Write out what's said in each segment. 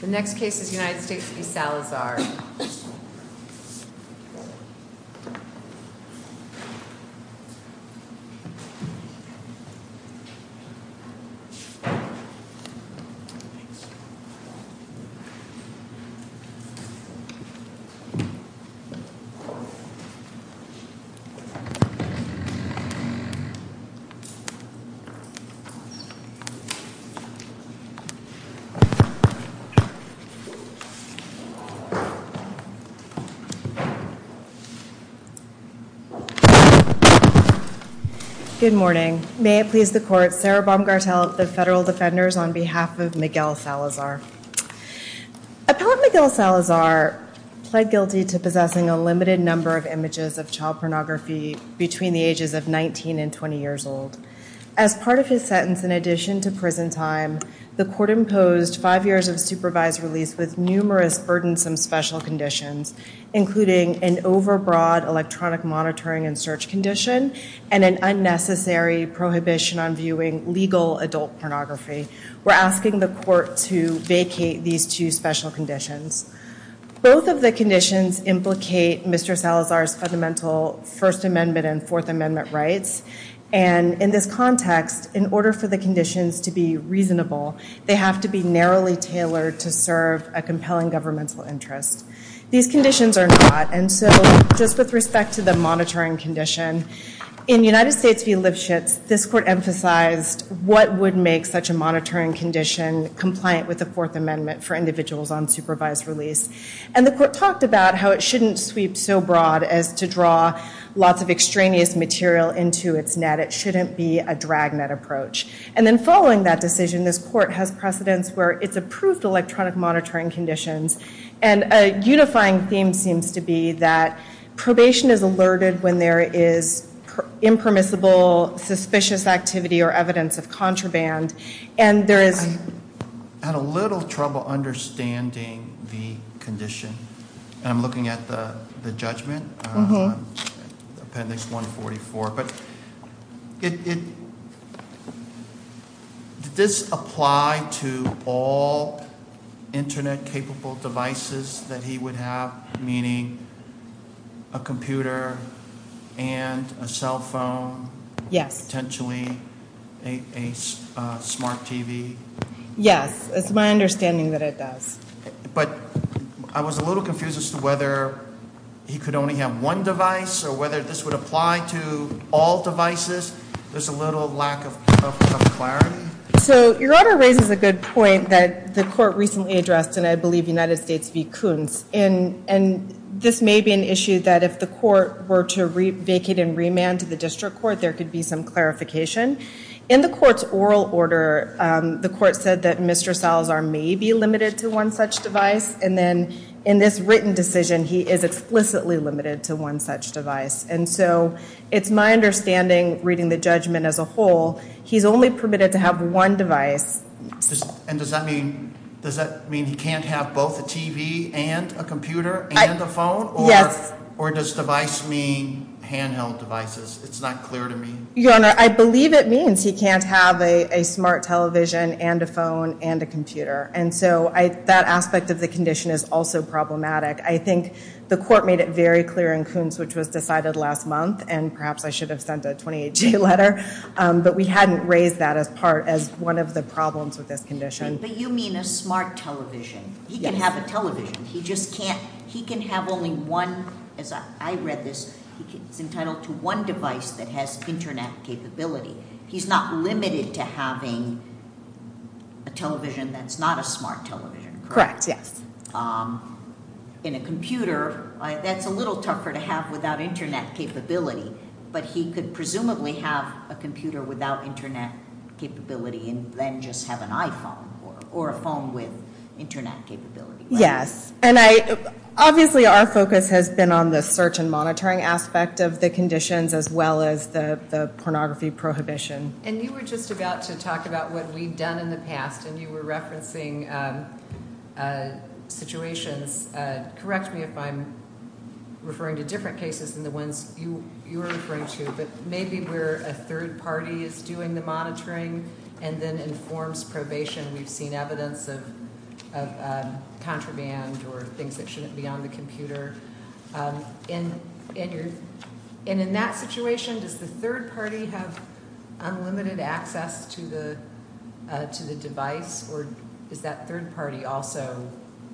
The next case is United States v. Salazar. Good morning. May it please the court, Sarah Baumgartel of the Federal Defenders on behalf of Miguel Salazar. Appellant Miguel Salazar pled guilty to possessing a limited number of images of child pornography between the ages of 19 and 20 years old. As part of his sentence, in addition to prison time, the court imposed five years of supervised release with numerous burdensome special conditions, including an overbroad electronic monitoring and search condition and an unnecessary prohibition on viewing legal adult pornography. We're asking the court to vacate these two special conditions. Both of the conditions implicate Mr. Salazar's fundamental First Amendment and Fourth Amendment rights. And in this context, in order for the conditions to be reasonable, they have to be narrowly tailored to serve a compelling governmental interest. These conditions are not. And so just with respect to the monitoring condition, in United States v. Lipschitz, this court emphasized what would make such a monitoring condition compliant with the Fourth Amendment for individuals on supervised release. And the court talked about how it shouldn't be a dragnet approach. And then following that decision, this court has precedents where it's approved electronic monitoring conditions. And a unifying theme seems to be that probation is alerted when there is impermissible, suspicious activity or evidence of contraband. And there is... I had a little trouble understanding the condition. And I'm looking at the judgment, Appendix 144. But did this apply to all Internet-capable devices that he would have, meaning a computer and a cell phone? Yes. Potentially a smart TV? Yes. It's my understanding that it does. But I was a little confused as to whether he could only have one device or whether this would apply to all devices. There's a little lack of clarity. So your order raises a good point that the court recently addressed in, I believe, United States v. Koontz. And this may be an issue that if the court were to vacate and remand to the district court, there could be some clarification. In the court's oral order, the court said that Mr. Salazar may be limited to one such device. And then in this written decision, he is explicitly limited to one such device. And so it's my understanding, reading the judgment as a whole, he's only permitted to have one device. And does that mean he can't have both a TV and a computer and a phone? Yes. Or does device mean handheld devices? It's not clear to me. Your Honor, I believe it means he can't have a smart television and a phone and a computer. And so that aspect of the condition is also problematic. I think the court made it very clear in Koontz, which was decided last month, and perhaps I should have sent a 28-G letter, but we hadn't raised that as part as one of the problems with this condition. But you mean a smart television. He can have a television. He just can't. He can have only one, as I read this, he's entitled to one device that has Internet capability. He's not limited to having a television that's not a smart television, correct? Correct, yes. In a computer, that's a little tougher to have without Internet capability. But he could presumably have a computer without Internet capability and then just have an iPhone or a phone with Internet capability. Yes. And obviously our focus has been on the search and monitoring aspect of the conditions as well as the pornography prohibition. And you were just about to talk about what we've done in the past, and you were referencing situations. Correct me if I'm referring to different cases than the ones you were referring to, but maybe where a third party is doing the monitoring and then informs probation we've seen evidence of contraband or things that shouldn't be on the computer. And in that situation, does the third party have unlimited access to the device, or is that third party also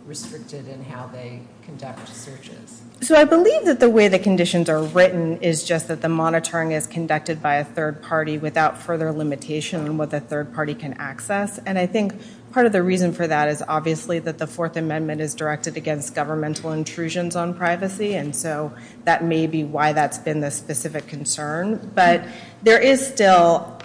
restricted in how they conduct searches? So I believe that the way the conditions are written is just that the monitoring is conducted by a third party without further limitation on what the third party can access. And I think part of the reason for that is obviously that the Fourth Amendment is directed against governmental intrusions on privacy, and so that may be why that's been the specific concern. But there is still,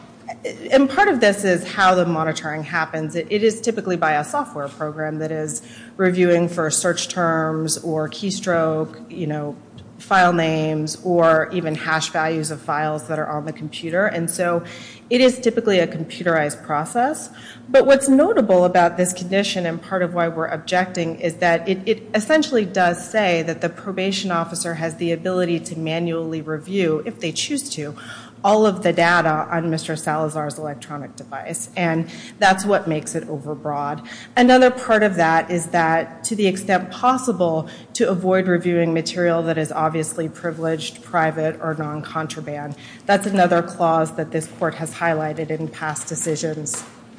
and part of this is how the monitoring happens. It is typically by a software program that is reviewing for search terms or keystroke file names or even hash values of files that are on the computer. And so it is typically a computerized process. But what's notable about this condition and part of why we're objecting is that it essentially does say that the probation officer has the ability to manually review, if they choose to, all of the data on Mr. Salazar's electronic device. And that's what makes it overbroad. Another part of that is that, to the extent possible, to avoid reviewing material that is obviously privileged, private, or non-contraband. That's another clause that this court has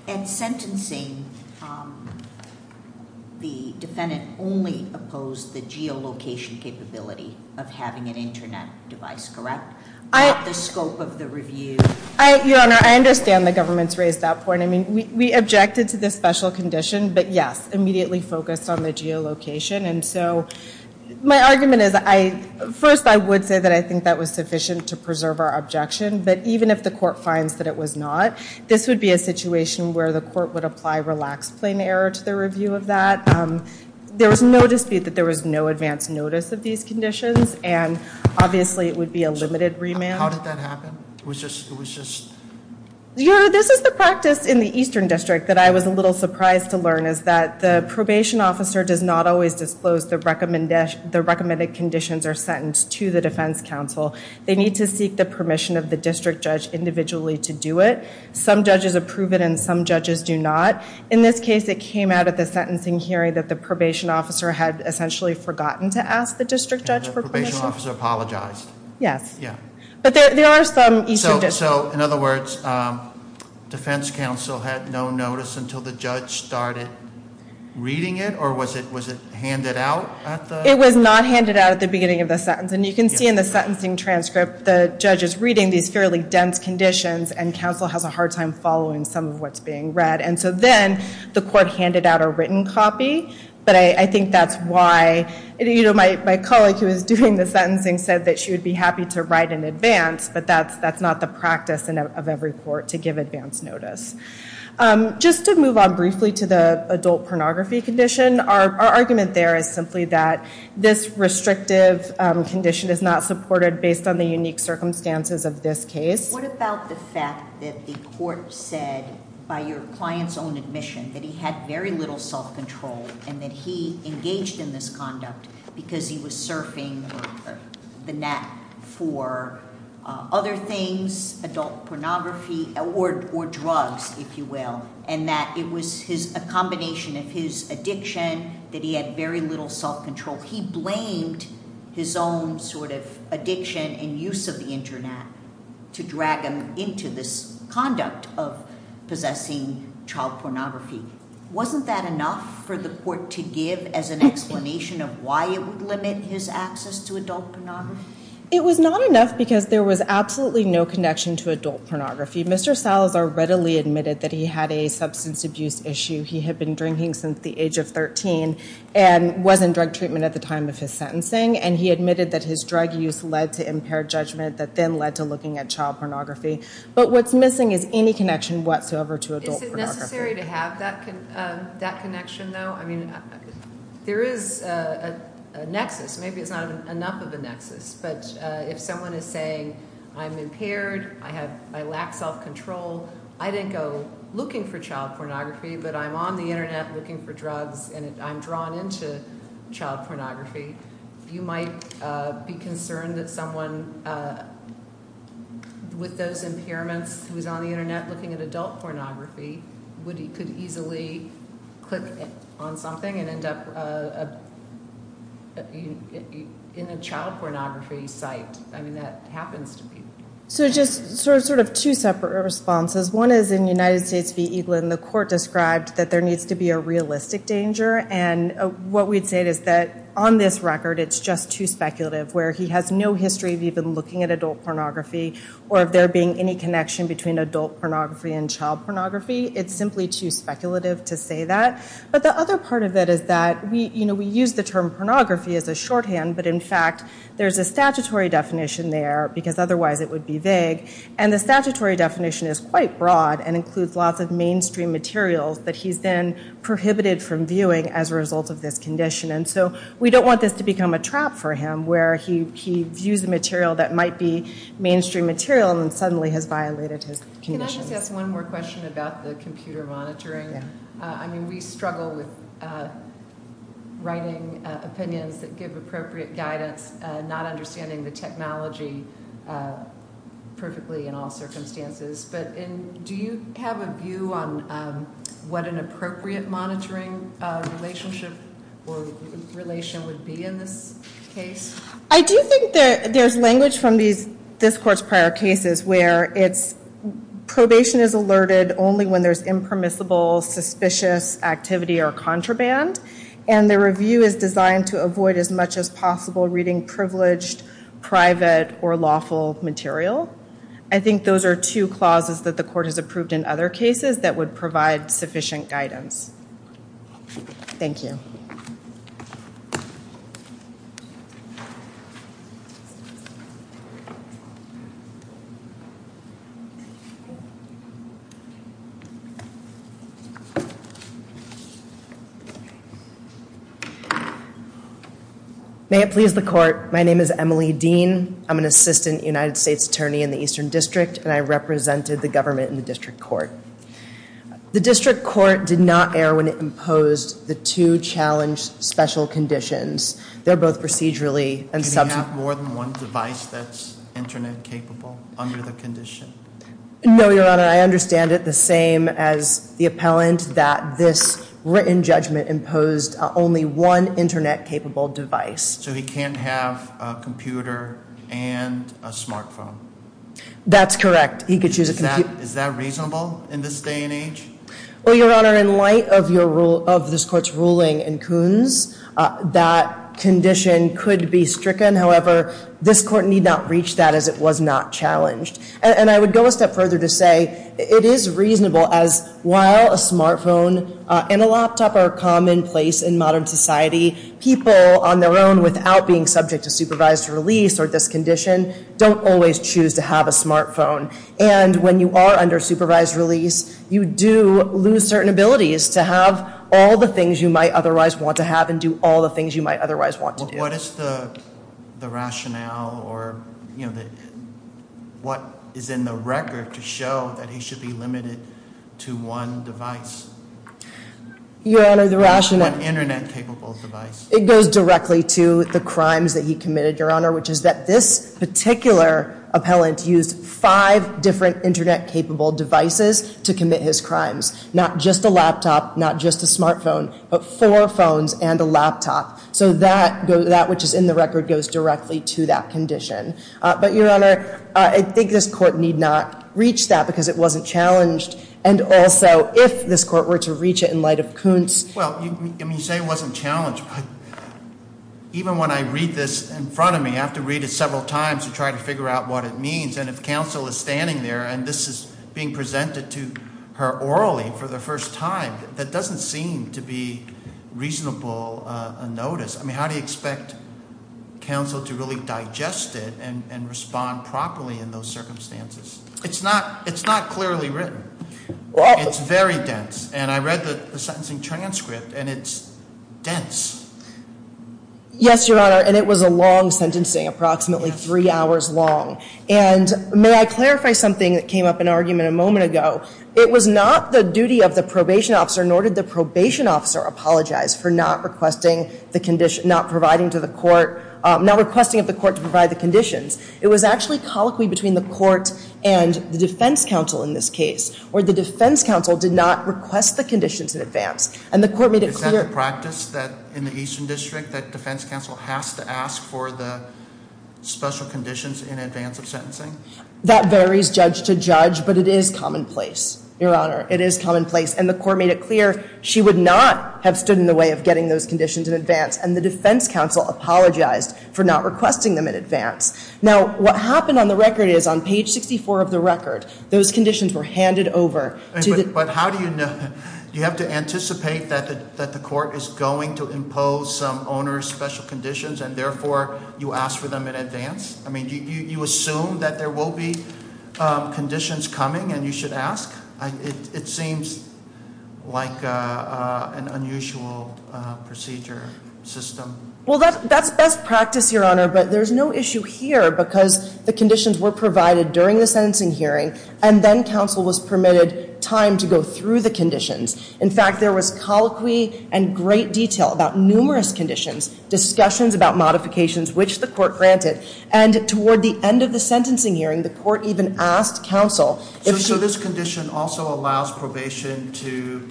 at sentencing, the defendant only opposed the geolocation capability of having an internet device, correct? The scope of the review. Your Honor, I understand the government's raised that point. I mean, we objected to this special condition, but yes, immediately focused on the geolocation. And so my argument is, first, I would say that I think that was sufficient to preserve our objection. But even if the court finds that it was not, this would be a situation where the court would apply relaxed plain error to the review of that. There was no dispute that there was no advance notice of these conditions. And obviously, it would be a limited remand. How did that happen? It was just... Your Honor, this is the practice in the Eastern District that I was a little surprised to learn, is that the probation officer does not always disclose the recommended conditions are sentenced to the defense counsel. They need to seek the permission of the district judge individually to do it. Some judges approve it, and some judges do not. In this case, it came out at the sentencing hearing that the probation officer had essentially forgotten to ask the district judge for permission. And the probation officer apologized. Yes. Yeah. But there are some Eastern District... So, in other words, defense counsel had no notice until the judge started reading it? Or was it handed out at the... It was not handed out at the beginning of the sentence. And you can see in the sentencing transcript, the judge is reading these fairly dense conditions, and counsel has a hard time following some of what's being read. And so then, the court handed out a written copy. But I think that's why... My colleague who was doing the sentencing said that she would be happy to write in advance, but that's not the practice of every court, to give advance notice. Just to move on briefly to the adult pornography condition, our argument there is simply that this restrictive condition is not supported based on the unique circumstances of this case. What about the fact that the court said, by your client's own admission, that he had very little self-control, and that he engaged in this conduct because he was surfing the net for other things, adult pornography, or drugs, if you will, and that it was a combination of his addiction, that he had very little self-control. He blamed his own sort of addiction and use of the internet to drag him into this conduct of possessing child pornography. Wasn't that enough for the court to give as an explanation of why it would limit his access to adult pornography? It was not enough because there was absolutely no connection to adult pornography. Mr. Salazar readily admitted that he had a substance abuse issue. He had been drinking since the age of 13 and was in drug treatment at the time of his sentencing, and he admitted that his drug use led to impaired judgment that then led to looking at child pornography. But what's missing is any connection whatsoever to adult pornography. Is it necessary to have that connection, though? I mean, there is a nexus. Maybe it's not enough of a nexus, but if someone is saying, I'm impaired, I lack self-control, I didn't go looking for child pornography, but I'm on the internet looking for drugs, and I'm drawn into child pornography, you might be concerned that someone with those impairments who is on the internet looking at adult pornography could easily click on something and end up in a child pornography site. I mean, that happens to people. So just sort of two separate responses. One is in United States v. Eaglin, the court described that there needs to be a realistic danger, and what we'd say is that on this record, it's just too speculative, where he has no history of even looking at adult pornography and child pornography. It's simply too speculative to say that. But the other part of it is that we use the term pornography as a shorthand, but in fact there's a statutory definition there, because otherwise it would be vague, and the statutory definition is quite broad and includes lots of mainstream materials that he's then prohibited from viewing as a result of this condition. And so we don't want this to become a trap for him, where he views a material that might be mainstream material and then suddenly has violated his conditions. Can I just ask one more question about the computer monitoring? Yeah. I mean, we struggle with writing opinions that give appropriate guidance, not understanding the technology perfectly in all circumstances, but do you have a view on what an appropriate monitoring relationship or relation would be in this case? I do think that there's language from this court's prior cases where it's probation is alerted only when there's impermissible, suspicious activity or contraband, and the review is designed to avoid as much as possible reading privileged, private, or lawful material. I think those are two clauses that the court has approved in other cases that would provide sufficient guidance. Thank you. May it please the court. My name is Emily Dean. I'm an assistant United States attorney in the Eastern District, and I represented the government in the district court. The district court did not err when it imposed the two challenge special conditions. They're both procedurally and substantive. Can he have more than one device that's internet capable under the condition? No, Your Honor. I understand it the same as the appellant that this written judgment imposed only one internet capable device. So he can't have a computer and a smartphone? That's correct. He could choose a computer. Is that reasonable in this day and age? Well, Your Honor, in light of this court's ruling in Coons, that condition could be stricken. However, this court need not reach that as it was not challenged. And I would go a step further to say it is reasonable as while a smartphone and a laptop are commonplace in modern society, people on their own without being subject to supervised release or discondition don't always choose to have a smartphone. And when you are under supervised release, you do lose certain abilities to have all the things you might otherwise want to have and do all the things you might otherwise want to do. What is the rationale or what is in the record to show that he should be limited to one device? Your Honor, the rationale... One internet capable device. It goes directly to the crimes that he committed, Your Honor, which is that this particular appellant used five different internet capable devices to commit his crimes. Not just a laptop, not just a smartphone, but four phones and a laptop. So that which is in the record goes directly to that condition. But Your Honor, I think this court need not reach that because it wasn't challenged. And also, if this court were to reach it in light of Coons... Well, you say it wasn't challenged, but even when I read this in front of me, I have to read it several times to try to figure out what it means. And if counsel is standing there and this is being presented to her orally for the first time, that doesn't seem to be reasonable notice. I mean, how do you expect counsel to really digest it and respond properly in those circumstances? It's not clearly written. It's very dense. And I read the sentencing transcript and it's dense. Yes, Your Honor, and it was a long sentencing, approximately three hours long. And may I clarify something that came up in argument a moment ago? It was not the duty of the probation officer, nor did the probation officer, apologize for not requesting the condition, not providing to the court, not requesting of the court to provide the conditions. It was actually colloquy between the court and the defense counsel in this case, where the defense counsel did not request the conditions in advance. And the court made it clear. Is that the practice in the Eastern District, that defense counsel has to ask for the special conditions in advance of sentencing? That varies judge to judge, but it is commonplace, Your Honor. It is commonplace. And the court made it clear she would not have stood in the way of getting those conditions in advance. And the defense counsel apologized for not requesting them in advance. Now, what happened on the record is, on page 64 of the record, those conditions were handed over to the But how do you know? Do you have to anticipate that the court is going to impose some owner's special conditions, and therefore you ask for them in advance? I mean, do you assume that there will be conditions coming and you should ask? It seems like an unusual procedure system. Well, that's best practice, Your Honor, but there's no issue here, because the conditions were provided during the sentencing hearing, and then counsel was permitted time to go through the conditions. In fact, there was colloquy and great detail about numerous conditions, discussions about modifications which the court granted, and toward the end of the sentencing hearing, the court even asked counsel if she So this condition also allows probation to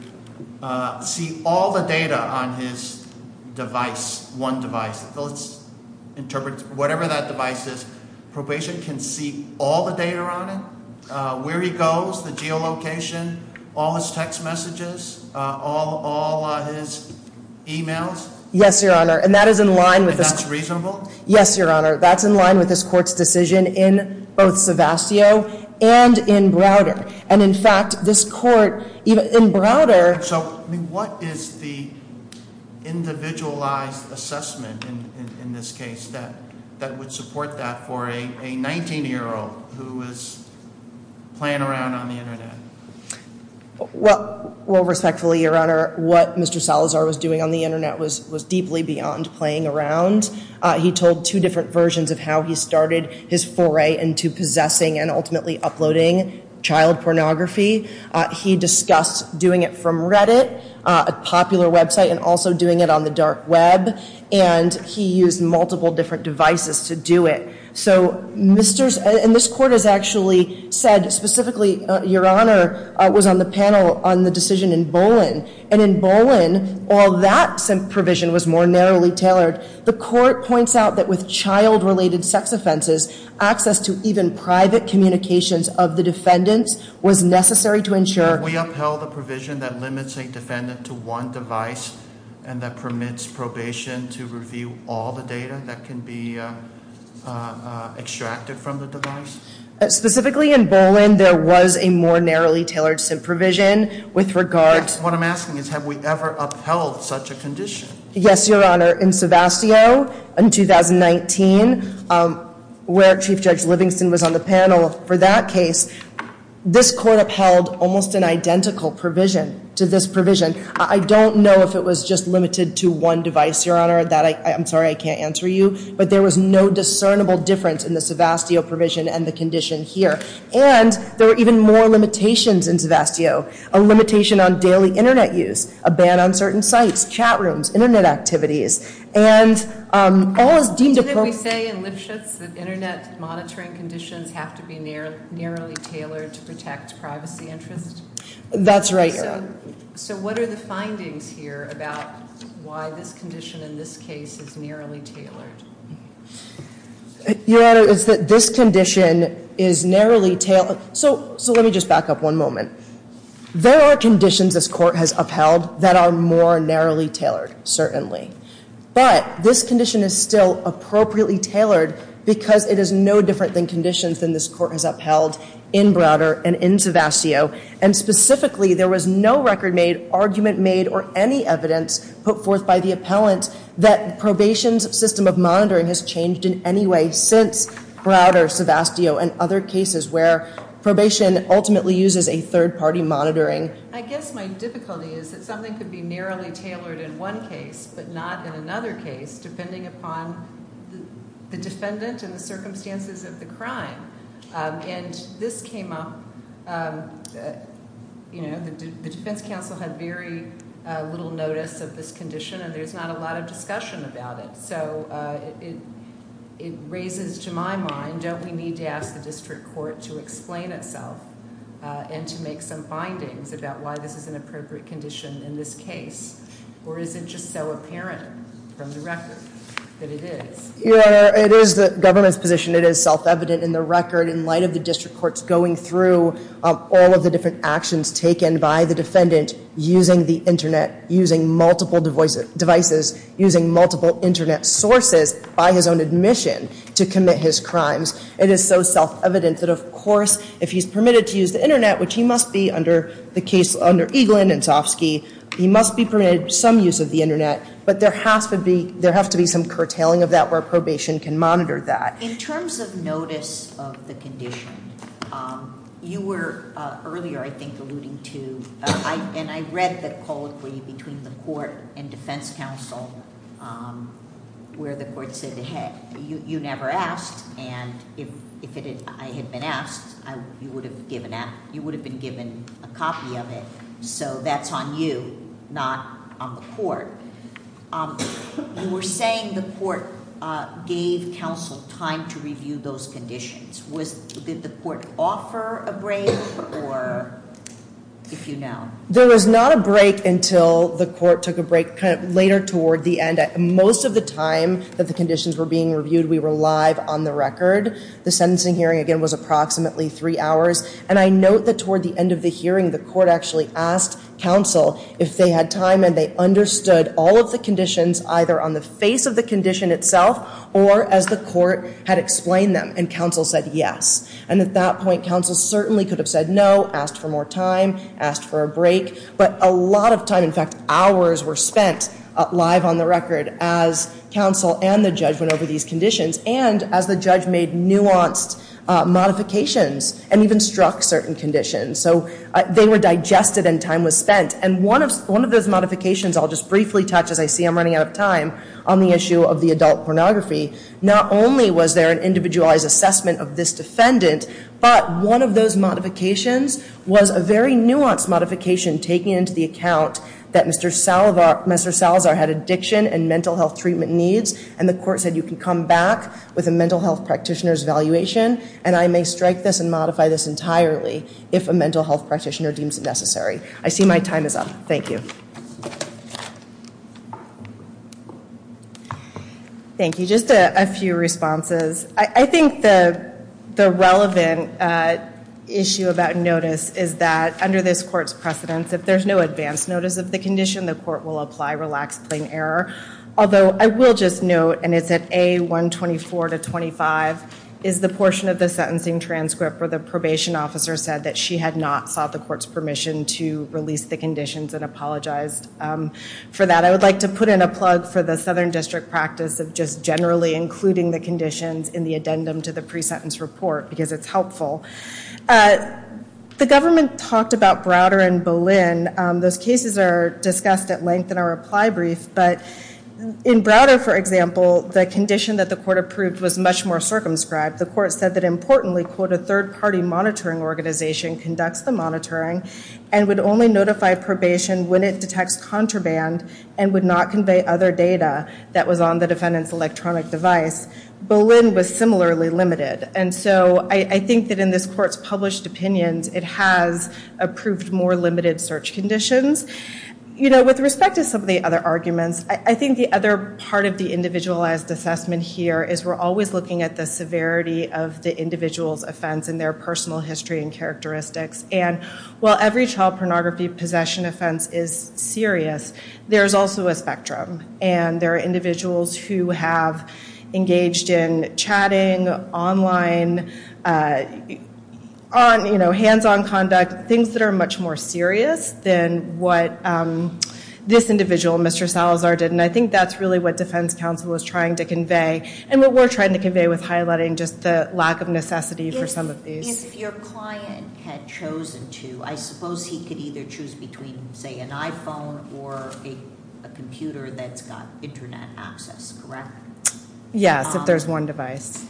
see all the data on his device, one device. Whatever that device is, probation can see all the data on it, where he goes, the geolocation, all his text messages, all his e-mails. Yes, Your Honor. And that's reasonable? Yes, Your Honor. That's in line with this court's decision in both Sevastio and in Browder. And in fact, this court in Browder So what is the individualized assessment in this case that would support that for a 19-year-old who was playing around on the Internet? Well, respectfully, Your Honor, what Mr. Salazar was doing on the Internet was deeply beyond playing around. He told two different versions of how he started his foray into possessing and ultimately uploading child pornography. He discussed doing it from Reddit, a popular website, and also doing it on the dark web. And he used multiple different devices to do it. And this court has actually said specifically, Your Honor, was on the panel on the decision in Bolin. And in Bolin, while that provision was more narrowly tailored, the court points out that with child-related sex offenses, access to even private communications of the defendants was necessary to ensure If we upheld a provision that limits a defendant to one device and that permits probation to review all the data that can be extracted from the device? Specifically in Bolin, there was a more narrowly tailored SIP provision with regard What I'm asking is have we ever upheld such a condition? Yes, Your Honor. In Sevastio in 2019, where Chief Judge Livingston was on the panel for that case, this court upheld almost an identical provision to this provision. I don't know if it was just limited to one device, Your Honor. I'm sorry, I can't answer you. But there was no discernible difference in the Sevastio provision and the condition here. And there were even more limitations in Sevastio. A limitation on daily Internet use, a ban on certain sites, chat rooms, Internet activities. And all is deemed appropriate. Didn't we say in Lipschitz that Internet monitoring conditions have to be narrowly tailored to protect privacy interests? That's right, Your Honor. So what are the findings here about why this condition in this case is narrowly tailored? Your Honor, it's that this condition is narrowly tailored. So let me just back up one moment. There are conditions this court has upheld that are more narrowly tailored, certainly. But this condition is still appropriately tailored because it is no different than conditions than this court has upheld in Browder and in Sevastio. And specifically, there was no record made, argument made, or any evidence put forth by the appellant that probation's system of monitoring has changed in any way since Browder, Sevastio, and other cases where probation ultimately uses a third-party monitoring. I guess my difficulty is that something could be narrowly tailored in one case but not in another case, depending upon the defendant and the circumstances of the crime. And this came up, you know, the defense counsel had very little notice of this condition. And there's not a lot of discussion about it. So it raises to my mind, don't we need to ask the district court to explain itself and to make some findings about why this is an appropriate condition in this case? Or is it just so apparent from the record that it is? Your Honor, it is the government's position. It is self-evident in the record in light of the district court's going through all of the different actions taken by the defendant using the Internet, using multiple devices, using multiple Internet sources by his own admission to commit his crimes. It is so self-evident that, of course, if he's permitted to use the Internet, which he must be under the case under Eaglin and Sofsky, he must be permitted some use of the Internet. But there has to be some curtailing of that where probation can monitor that. In terms of notice of the condition, you were earlier, I think, alluding to, and I read the colloquy between the court and defense counsel where the court said, hey, you never asked, and if I had been asked, you would have been given a copy of it. So that's on you, not on the court. You were saying the court gave counsel time to review those conditions. Did the court offer a break, or if you know? There was not a break until the court took a break kind of later toward the end. Most of the time that the conditions were being reviewed, we were live on the record. The sentencing hearing, again, was approximately three hours, and I note that toward the end of the hearing, the court actually asked counsel if they had time and they understood all of the conditions either on the face of the condition itself or as the court had explained them, and counsel said yes. And at that point, counsel certainly could have said no, asked for more time, asked for a break. But a lot of time, in fact, hours, were spent live on the record as counsel and the judge went over these conditions and as the judge made nuanced modifications and even struck certain conditions. So they were digested and time was spent. And one of those modifications I'll just briefly touch, as I see I'm running out of time, on the issue of the adult pornography, not only was there an individualized assessment of this defendant, but one of those modifications was a very nuanced modification taking into the account that Mr. Salazar had addiction and mental health treatment needs, and the court said you can come back with a mental health practitioner's evaluation and I may strike this and modify this entirely if a mental health practitioner deems it necessary. I see my time is up. Thank you. Thank you. Just a few responses. I think the relevant issue about notice is that under this court's precedence, if there's no advance notice of the condition, the court will apply relaxed plain error. Although I will just note, and it's at A124 to 25, is the portion of the sentencing transcript where the probation officer said that she had not sought the court's permission to release the conditions and apologized for that. I would like to put in a plug for the Southern District practice of just generally including the conditions in the addendum to the pre-sentence report because it's helpful. The government talked about Browder and Boleyn. Those cases are discussed at length in our reply brief, but in Browder, for example, the condition that the court approved was much more circumscribed. The court said that importantly, quote, a third-party monitoring organization conducts the monitoring and would only notify probation when it detects contraband and would not convey other data that was on the defendant's electronic device. Boleyn was similarly limited. And so I think that in this court's published opinions, it has approved more limited search conditions. You know, with respect to some of the other arguments, I think the other part of the individualized assessment here is we're always looking at the severity of the individual's offense and their personal history and characteristics. And while every child pornography possession offense is serious, there's also a spectrum. And there are individuals who have engaged in chatting, online, hands-on conduct, things that are much more serious than what this individual, Mr. Salazar, did. And I think that's really what defense counsel was trying to convey and what we're trying to convey with highlighting just the lack of necessity for some of these. If your client had chosen to, I suppose he could either choose between, say, an iPhone or a computer that's got Internet access, correct? Yes, if there's one device.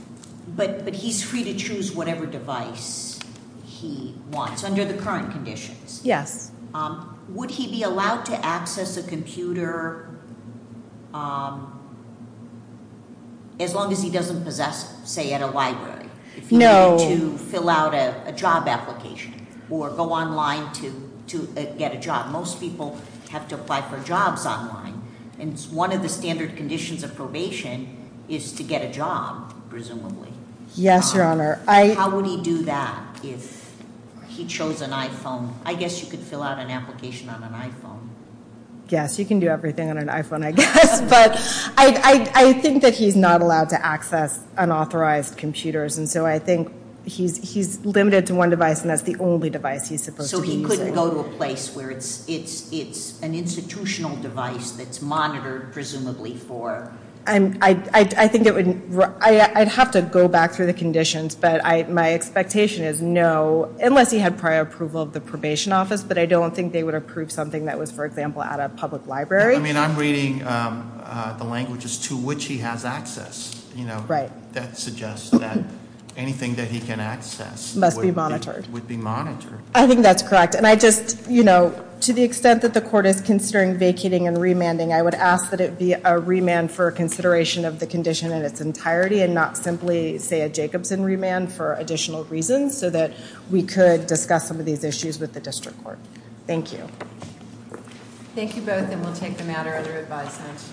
But he's free to choose whatever device he wants under the current conditions? Yes. Would he be allowed to access a computer as long as he doesn't possess, say, at a library? If he needed to fill out a job application or go online to get a job. Most people have to apply for jobs online, and one of the standard conditions of probation is to get a job, presumably. Yes, Your Honor. How would he do that if he chose an iPhone? I guess you could fill out an application on an iPhone. Yes, you can do everything on an iPhone, I guess. But I think that he's not allowed to access unauthorized computers, and so I think he's limited to one device, and that's the only device he's supposed to be using. So he couldn't go to a place where it's an institutional device that's monitored, presumably, for? I'd have to go back through the conditions, but my expectation is no, unless he had prior approval of the probation office. But I don't think they would approve something that was, for example, at a public library. I'm reading the languages to which he has access. Right. That suggests that anything that he can access- Must be monitored. Would be monitored. I think that's correct. And I just, you know, to the extent that the court is considering vacating and remanding, I would ask that it be a remand for consideration of the condition in its entirety, and not simply, say, a Jacobson remand for additional reasons, so that we could discuss some of these issues with the district court. Thank you. Thank you both, and we'll take the matter under advisement.